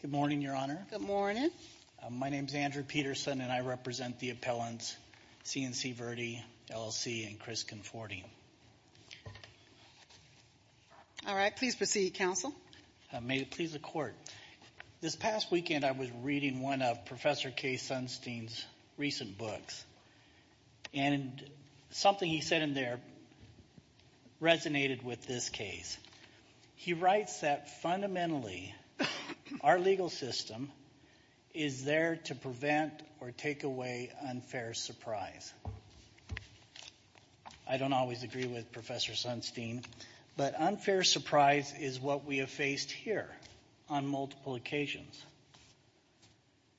Good morning, Your Honor. Good morning. My name is Andrew Peterson, and I represent the appellants C&C Verde LLC and Chris Conforti. All right, please proceed, Counsel. May it please the Court. This past weekend, I was reading one of Professor Kay Sunstein's recent books, and something he said in there resonated with this case. He writes that fundamentally, our legal system is there to prevent or take away unfair surprise. I don't always agree with Professor Sunstein, but unfair surprise is what we have faced here on multiple occasions.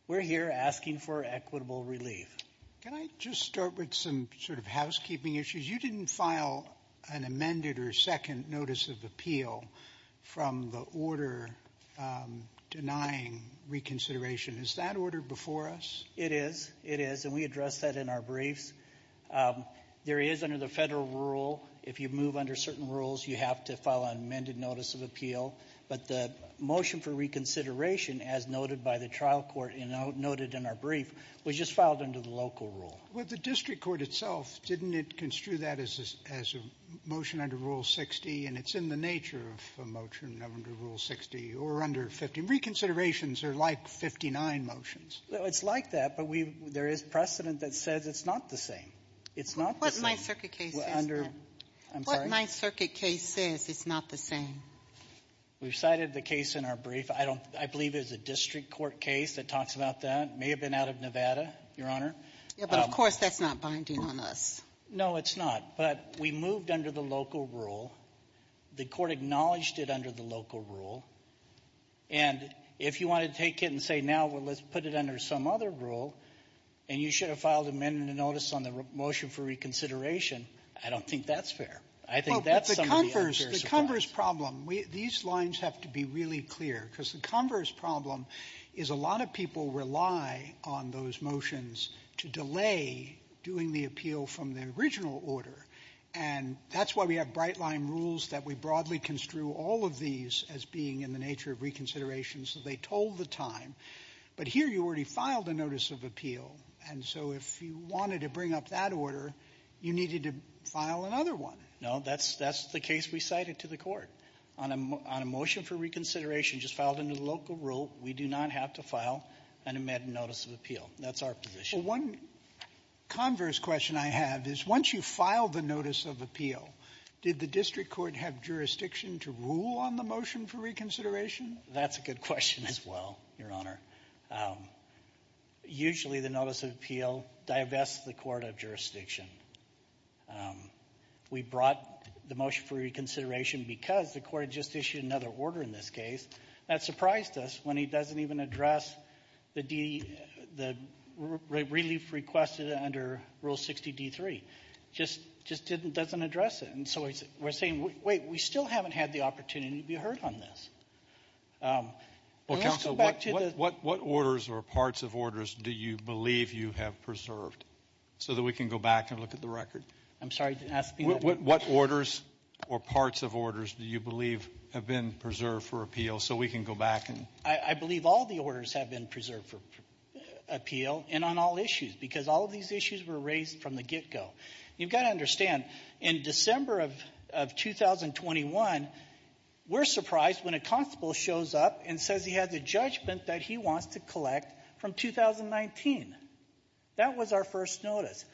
We're here asking for equitable relief. Can I just start with some sort of housekeeping issues? You didn't file an amended or second notice of appeal from the order denying reconsideration. Is that order before us? It is. It is, and we addressed that in our briefs. There is, under the federal rule, if you move under certain rules, you have to file an amended notice of appeal. But the motion for reconsideration, as noted by the trial court and noted in our brief, was just filed under the local rule. Well, the district court itself, didn't it construe that as a motion under Rule 60? And it's in the nature of a motion under Rule 60 or under 50. Reconsiderations are like 59 motions. It's like that, but we've — there is precedent that says it's not the same. It's not the same. What my circuit case says, then? I'm sorry? What my circuit case says, it's not the same. We've cited the case in our brief. I don't — I believe it was a district court case that talks about that. It may have been out of Nevada, Your Honor. Yeah, but of course that's not binding on us. No, it's not. But we moved under the local rule. The court acknowledged it under the local rule. And if you wanted to take it and say, now, well, let's put it under some other rule, and you should have filed an amended notice on the motion for reconsideration, I don't think that's fair. I think that's some of the unfair surprise. Well, but the converse — the converse problem, these lines have to be really clear, because the converse problem is a lot of people rely on those motions to delay doing the appeal from the original order. And that's why we have Brightline rules that we broadly construe all of these as being in the nature of reconsideration, so they told the time. But here you already filed a notice of appeal, and so if you wanted to bring up that order, you needed to file another one. No, that's the case we cited to the Court. On a motion for reconsideration just filed under the local rule, we do not have to file an amended notice of appeal. That's our position. Well, one converse question I have is once you file the notice of appeal, did the district court have jurisdiction to rule on the motion for reconsideration? That's a good question as well, Your Honor. Usually the notice of appeal divests the court of jurisdiction. We brought the motion for reconsideration because the court had just issued another order in this case. That surprised us when he doesn't even address the relief requested under Rule 60D3. Just doesn't address it. And so we're saying, wait, we still haven't had the opportunity to be heard on this. Well, counsel, what orders or parts of orders do you believe you have preserved so that we can go back and look at the record? I'm sorry, I didn't ask the question. What orders or parts of orders do you believe have been preserved for appeal so we can go back and... I believe all the orders have been preserved for appeal and on all issues because all of these issues were raised from the get-go. You've got to understand, in December of 2021, we're surprised when a constable shows up and says he has a judgment that he wants to collect from 2019. That was our first notice.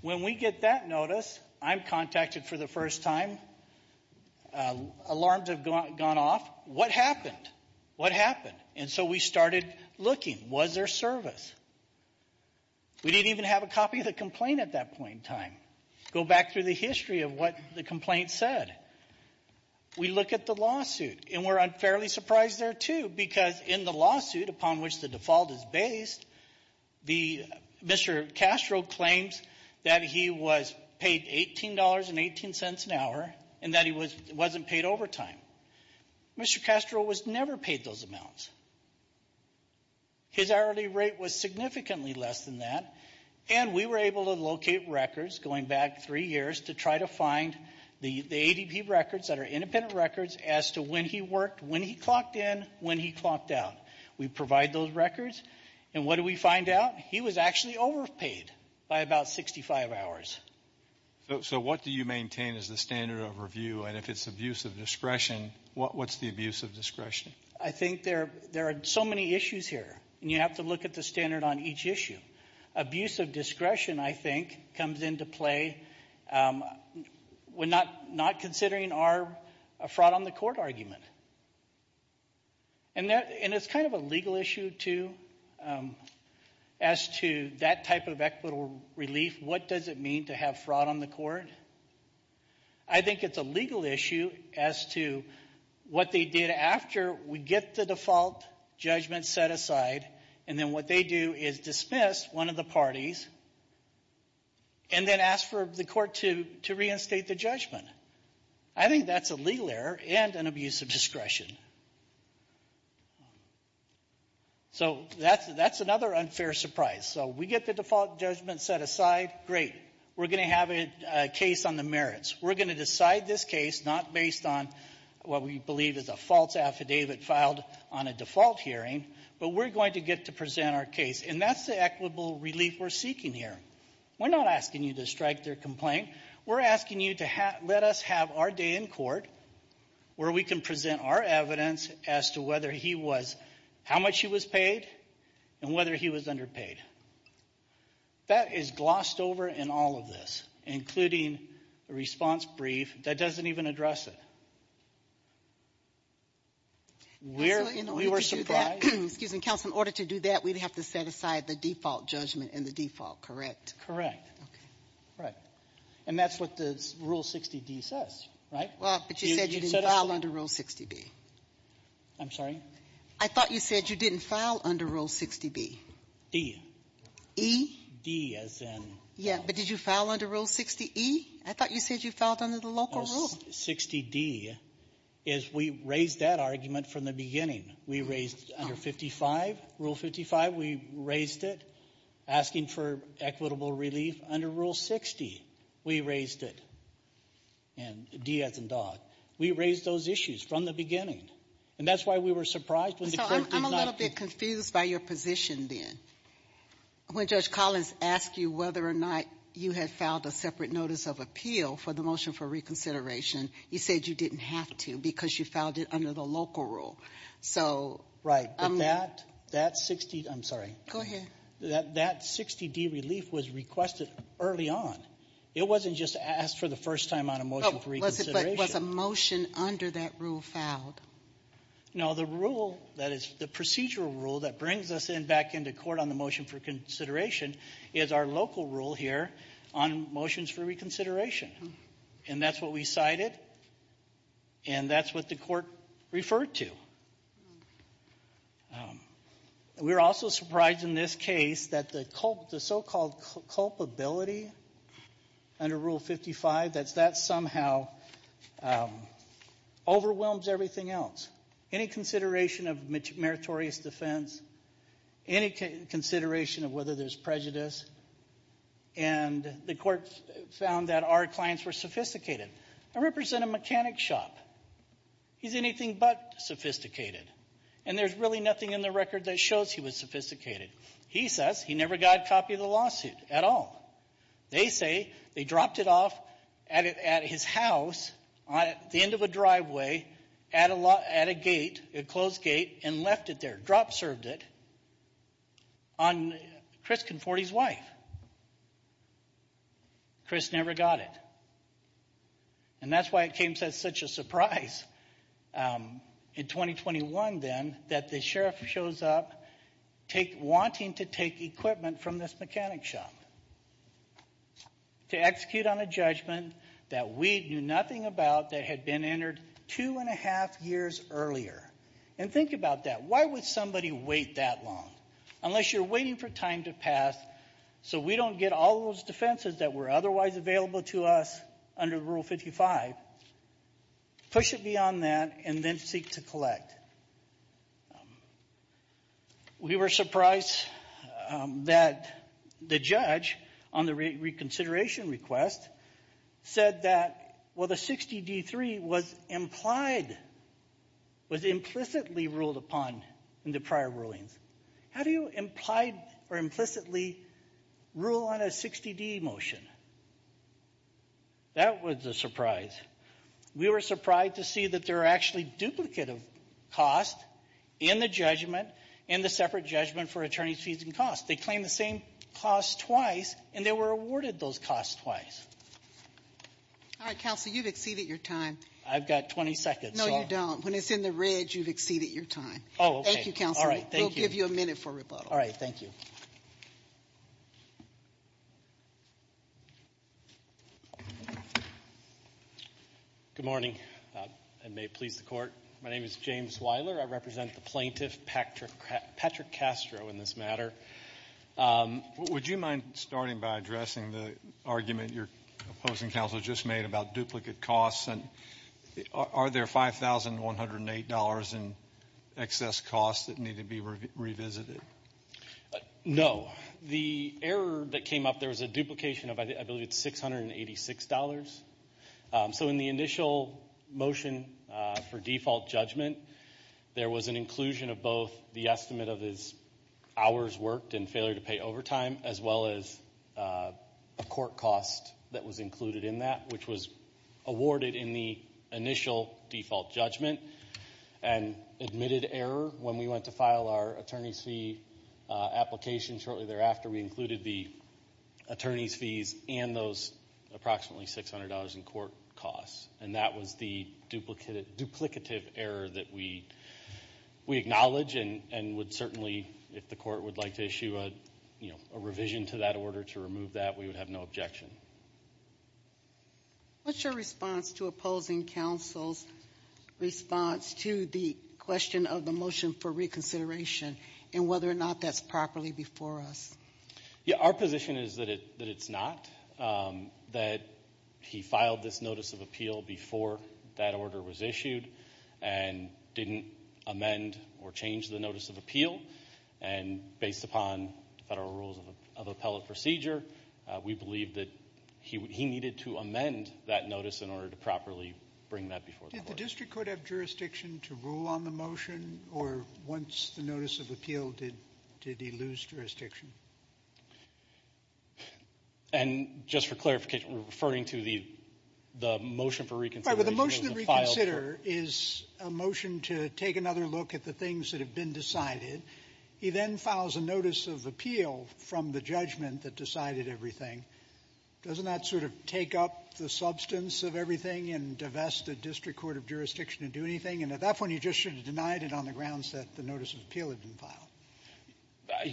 When we get that notice, I'm contacted for the first time, alarms have gone off. What happened? What happened? And so we started looking. Was there service? We didn't even have a copy of the complaint at that point in time. Go back through the history of what the complaint said. We look at the lawsuit, and we're unfairly surprised there, too, because in the lawsuit upon which the default is based, Mr. Castro claims that he was paid $18.18 an hour and that he wasn't paid overtime. Mr. Castro was never paid those amounts. His hourly rate was significantly less than that, and we were able to locate records going back three years to try to find the ADP records that are independent records as to when he worked, when he clocked in, when he clocked out. We provide those records, and what do we find out? He was actually overpaid by about 65 hours. So what do you maintain as the standard of review? And if it's abuse of discretion, what's the abuse of discretion? I think there are so many issues here, and you have to look at the standard on each issue. Abuse of discretion, I think, comes into play when not considering our fraud on the court argument. And it's kind of a legal issue, too, as to that type of equitable relief. What does it mean to have fraud on the court? I think it's a legal issue as to what they did after we get the default judgment set aside, and then what they do is dismiss one of the parties and then ask for the court to reinstate the judgment. I think that's a legal error and an abuse of discretion. So that's another unfair surprise. So we get the default judgment set aside, great. We're going to have a case on the merits. We're going to decide this case not based on what we believe is a false affidavit filed on a default hearing, but we're going to get to present our case. And that's the equitable relief we're seeking here. We're not asking you to strike their complaint. We're asking you to let us have our day in court where we can present our evidence as to whether he was, how much he was paid, and whether he was underpaid. That is glossed over in all of this, including the response brief. That doesn't even address it. We were surprised. Excuse me, counsel. In order to do that, we'd have to set aside the default judgment and the default, correct? Correct. Okay. Right. And that's what the Rule 60D says, right? Well, but you said you didn't file under Rule 60B. I'm sorry? I thought you said you didn't file under Rule 60B. D. E? D, as in? Yeah, but did you file under Rule 60E? I thought you said you filed under the local rule. Rule 60D is we raised that argument from the beginning. We raised under 55, Rule 55, we raised it, asking for equitable relief. Under Rule 60, we raised it. And D as in dog. We raised those issues from the beginning. And that's why we were surprised when the court did not do it. It was by your position then. When Judge Collins asked you whether or not you had filed a separate notice of appeal for the motion for reconsideration, you said you didn't have to because you filed it under the local rule. So ---- Right. But that, that 60 ---- I'm sorry. Go ahead. That 60D relief was requested early on. It wasn't just asked for the first time on a motion for reconsideration. But was a motion under that rule filed? No. The rule that is the procedural rule that brings us in back into court on the motion for consideration is our local rule here on motions for reconsideration. And that's what we cited. And that's what the court referred to. We were also surprised in this case that the so-called culpability under Rule 55, that that somehow overwhelms everything else, any consideration of meritorious defense, any consideration of whether there's prejudice. And the court found that our clients were sophisticated. I represent a mechanic shop. He's anything but sophisticated. And there's really nothing in the record that shows he was sophisticated. He says he never got a copy of the lawsuit at all. They say they dropped it off at his house at the end of a driveway at a gate, a closed gate, and left it there, drop-served it, on Chris Conforti's wife. Chris never got it. And that's why it came as such a surprise in 2021, then, that the sheriff shows up wanting to take equipment from this mechanic shop to execute on a judgment that we knew nothing about that had been entered two and a half years earlier. And think about that. Why would somebody wait that long, unless you're waiting for time to pass so we don't get all those defenses that were otherwise available to us under Rule 55? Push it beyond that and then seek to collect. We were surprised that the judge, on the reconsideration request, said that, well, the 60D3 was implied, was implicitly ruled upon in the prior rulings. How do you implied or implicitly rule on a 60D motion? That was a surprise. We were surprised to see that there are actually duplicative costs in the judgment and the separate judgment for attorneys' fees and costs. They claim the same costs twice, and they were awarded those costs twice. All right, Counsel, you've exceeded your time. I've got 20 seconds. No, you don't. When it's in the red, you've exceeded your time. Oh, okay. Thank you, Counsel. All right, thank you. We'll give you a minute for rebuttal. All right, thank you. Good morning. I may please the Court. My name is James Weiler. I represent the plaintiff, Patrick Castro, in this matter. Would you mind starting by addressing the argument your opposing counsel just made about duplicate costs? Are there $5,108 in excess costs that need to be revisited? No. The error that came up, there was a duplication of, I believe, $686. So in the initial motion for default judgment, there was an inclusion of both the estimate of his hours worked and failure to pay overtime as well as a court cost that was included in that, which was awarded in the initial default judgment and admitted error when we went to file our attorney's fee application shortly thereafter. We included the attorney's fees and those approximately $600 in court costs, and that was the duplicative error that we acknowledge and would certainly, if the Court would like to issue a revision to that order to remove that, we would have no objection. What's your response to opposing counsel's response to the question of the motion for reconsideration and whether or not that's properly before us? Our position is that it's not, that he filed this notice of appeal before that order was issued and didn't amend or change the notice of appeal, and based upon federal rules of appellate procedure, we believe that he needed to amend that notice in order to properly bring that before the Court. Did the district court have jurisdiction to rule on the motion, or once the notice of appeal, did he lose jurisdiction? And just for clarification, referring to the motion for reconsideration, the motion to reconsider is a motion to take another look at the things that have been decided. He then files a notice of appeal from the judgment that decided everything. Doesn't that sort of take up the substance of everything and divest the district court of jurisdiction and do anything? And at that point, you just should have denied it on the grounds that the notice of appeal had been filed.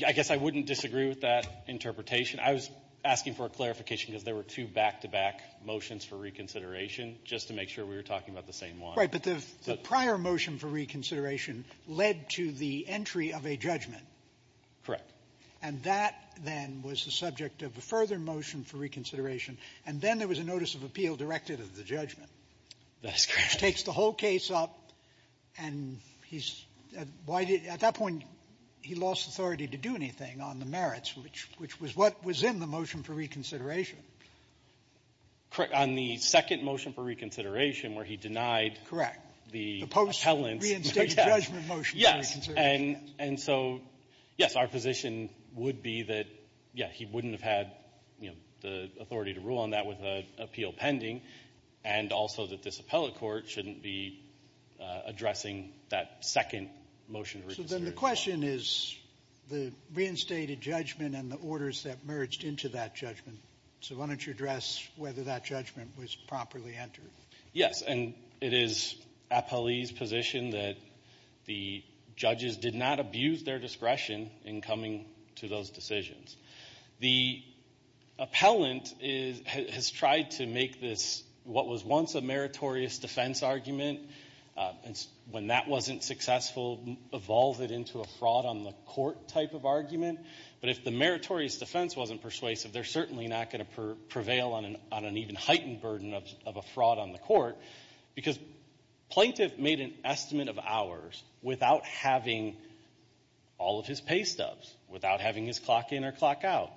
I guess I wouldn't disagree with that interpretation. I was asking for a clarification because there were two back-to-back motions for reconsideration, just to make sure we were talking about the same one. Right. But the prior motion for reconsideration led to the entry of a judgment. Correct. And that, then, was the subject of a further motion for reconsideration. And then there was a notice of appeal directed at the judgment. That's correct. Which takes the whole case up, and he's at that point, he lost authority to do anything on the merits, which was what was in the motion for reconsideration. Correct. On the second motion for reconsideration, where he denied the appellants. Correct. The post-reinstated judgment motion for reconsideration. Yes. And so, yes, our position would be that, yes, he wouldn't have had, you know, the authority to rule on that with an appeal pending, and also that this appellate court shouldn't be addressing that second motion for reconsideration. So then the question is the reinstated judgment and the orders that merged into that was whether that judgment was properly entered. Yes. And it is appellee's position that the judges did not abuse their discretion in coming to those decisions. The appellant has tried to make this what was once a meritorious defense argument, and when that wasn't successful, evolved it into a fraud on the court type of argument. But if the meritorious defense wasn't persuasive, they're certainly not going to prevail on an even heightened burden of a fraud on the court, because plaintiff made an estimate of hours without having all of his pay stubs, without having his clock in or clock out.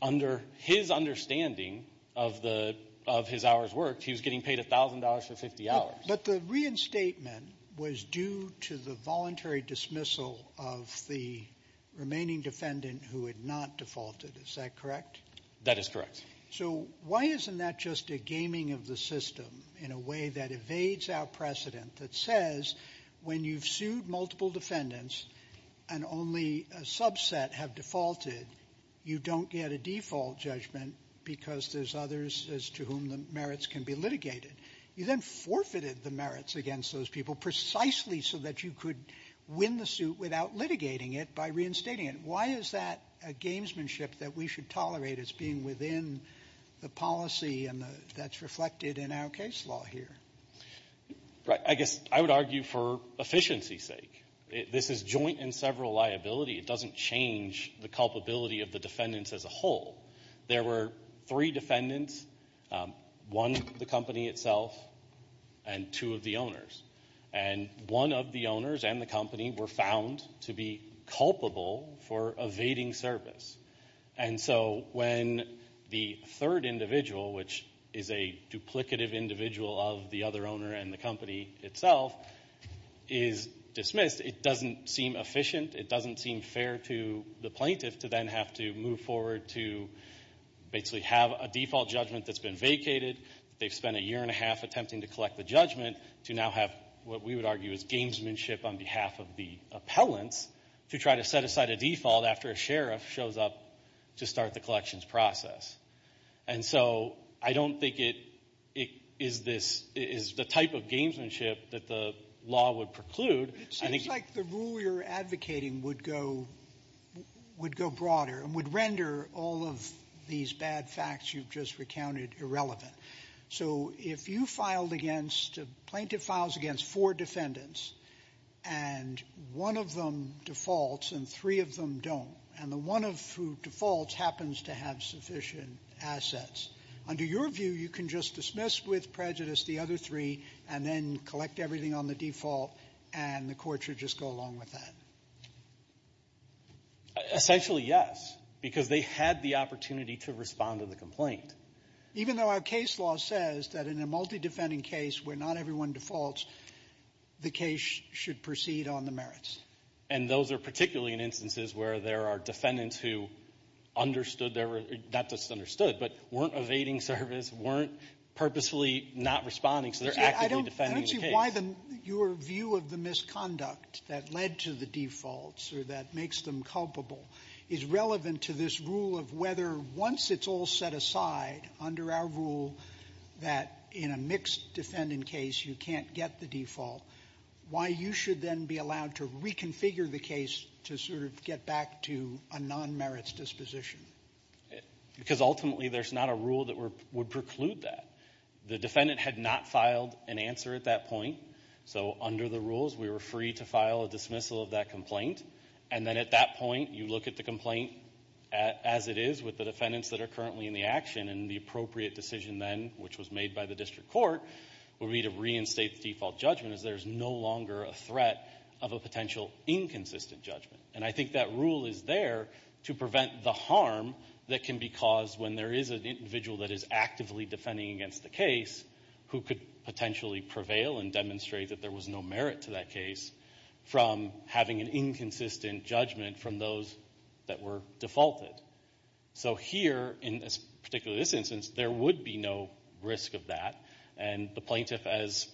Under his understanding of the — of his hours worked, he was getting paid $1,000 for 50 hours. But the reinstatement was due to the voluntary dismissal of the remaining defendant who had not defaulted. Is that correct? That is correct. So why isn't that just a gaming of the system in a way that evades our precedent, that says when you've sued multiple defendants and only a subset have defaulted, you don't get a default judgment because there's others as to whom the merits can be litigated. You then forfeited the merits against those people precisely so that you could win the suit without litigating it by reinstating it. Why is that a gamesmanship that we should tolerate as being within the policy and the — that's reflected in our case law here? I guess I would argue for efficiency's sake. This is joint and several liability. It doesn't change the culpability of the defendants as a whole. There were three defendants, one the company itself and two of the owners. And one of the owners and the company were found to be culpable for evading service. And so when the third individual, which is a duplicative individual of the other owner and the company itself, is dismissed, it doesn't seem efficient. It doesn't seem fair to the plaintiff to then have to move forward to basically have a default judgment that's been vacated. They've spent a year and a half attempting to collect the judgment to now have what we would argue is gamesmanship on behalf of the appellants to try to set aside a default after a sheriff shows up to start the collections process. And so I don't think it is this — it is the type of gamesmanship that the law would preclude. I think — It seems like the rule you're advocating would go broader and would render all of these bad facts you've just recounted irrelevant. So if you filed against — a plaintiff files against four defendants and one of them defaults and three of them don't, and the one who defaults happens to have sufficient assets, under your view you can just dismiss with prejudice the other three and then collect everything on the default and the court should just go along with that? Essentially, yes, because they had the opportunity to respond to the complaint. Even though our case law says that in a multi-defending case where not everyone defaults, the case should proceed on the merits. And those are particularly in instances where there are defendants who understood their — not just understood, but weren't evading service, weren't purposefully not responding, so they're actively defending the case. I don't see why your view of the misconduct that led to the defaults or that makes them culpable is relevant to this rule of whether, once it's all set aside under our rule that in a mixed-defendant case you can't get the default, why you should then be allowed to reconfigure the case to sort of get back to a non-merits disposition? Because ultimately there's not a rule that would preclude that. The defendant had not filed an answer at that point, so under the rules we were free to file a dismissal of that complaint. And then at that point you look at the complaint as it is with the defendants that are currently in the action, and the appropriate decision then, which was made by the district court, would be to reinstate the default judgment as there's no longer a threat of a potential inconsistent judgment. And I think that rule is there to prevent the harm that can be caused when there is an individual that is actively defending against the case who could potentially prevail and demonstrate that there was no merit to that case from having an inconsistent judgment from those that were defaulted. So here, in this particular instance, there would be no risk of that. And the plaintiff, as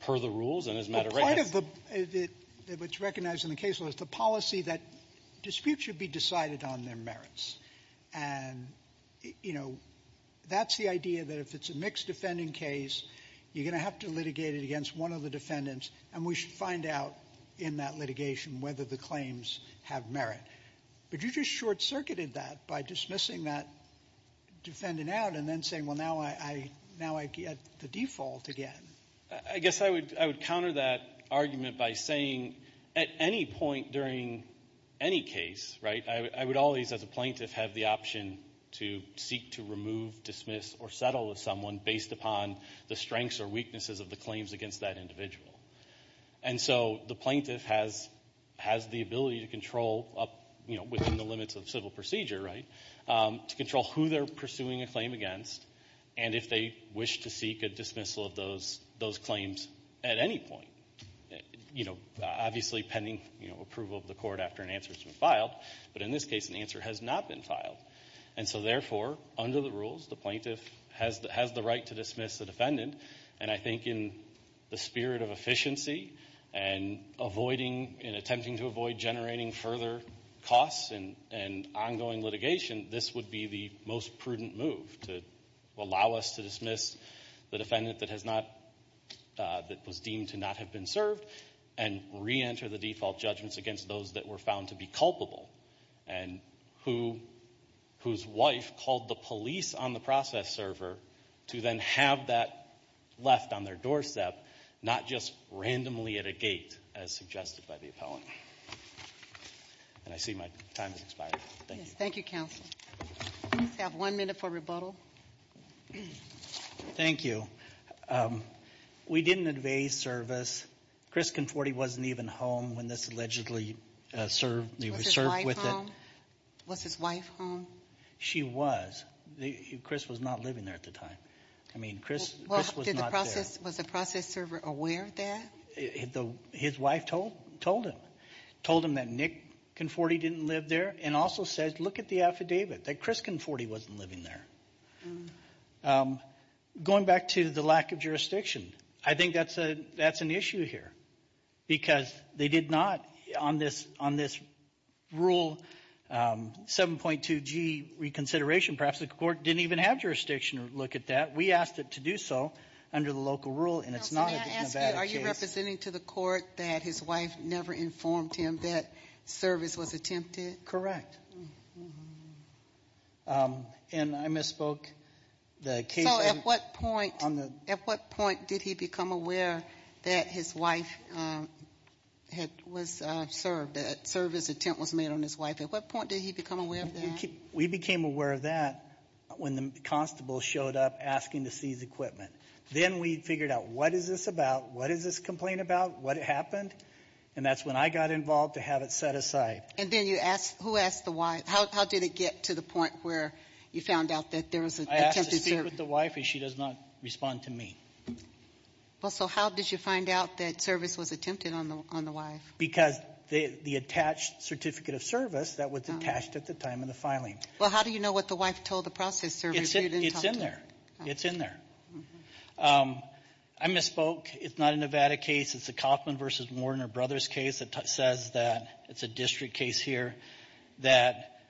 per the rules and as a matter of rightness ---- Sotomayor, which is recognized in the case law, is the policy that disputes should be decided on their merits. And, you know, that's the idea that if it's a mixed defending case, you're going to have to litigate it against one of the defendants, and we should find out in that litigation whether the claims have merit. But you just short-circuited that by dismissing that defendant out and then saying, well, now I get the default again. I guess I would counter that argument by saying at any point during any case, right, I would always, as a plaintiff, have the option to seek to remove, dismiss or settle with someone based upon the strengths or weaknesses of the claims against that individual. And so the plaintiff has the ability to control up, you know, within the limits of civil procedure, right, to control who they're pursuing a claim against and if they wish to seek a dismissal of those claims at any point. You know, obviously pending, you know, approval of the court after an answer has been filed. But in this case, an answer has not been filed. And so, therefore, under the rules, the plaintiff has the right to dismiss the And I think in the spirit of efficiency and avoiding and attempting to avoid generating further costs and ongoing litigation, this would be the most prudent move to allow us to dismiss the defendant that has not, that was deemed to not have been served and reenter the default judgments against those that were found to be culpable and who, whose wife called the police on the process server to then have that left on their doorstep, not just randomly at a gate as suggested by the appellant. And I see my time has expired. Thank you. Thank you, counsel. I have one minute for rebuttal. Thank you. We didn't evade service. Chris Conforti wasn't even home when this allegedly served. Was his wife home? She was. Chris was not living there at the time. I mean, Chris was not there. Was the process server aware of that? His wife told him. Told him that Nick Conforti didn't live there. And also said, look at the affidavit, that Chris Conforti wasn't living there. Going back to the lack of jurisdiction, I think that's an issue here. Because they did not, on this rule 7.2G reconsideration, perhaps the court didn't even have jurisdiction to look at that. We asked it to do so under the local rule. And it's not a Nevada case. Are you representing to the court that his wife never informed him that service was attempted? Correct. And I misspoke. So at what point, at what point did he become aware that his wife had was served, that service attempt was made on his wife? At what point did he become aware of that? We became aware of that when the constable showed up asking to seize equipment. Then we figured out, what is this about? What is this complaint about? What happened? And that's when I got involved to have it set aside. And then you asked, who asked the wife? How did it get to the point where you found out that there was an attempted service? I asked to speak with the wife and she does not respond to me. Well, so how did you find out that service was attempted on the wife? Because the attached certificate of service that was attached at the time of the filing. Well, how do you know what the wife told the process service? It's in there. It's in there. I misspoke. It's not a Nevada case. It's a Kaufman versus Warner Brothers case that says that it's a district case here that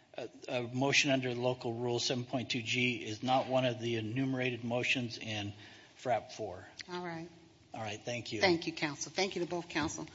a motion under local rule 7.2 G is not one of the enumerated motions in FRAP 4. All right. All right. Thank you. Thank you, counsel. Thank you to both counsel.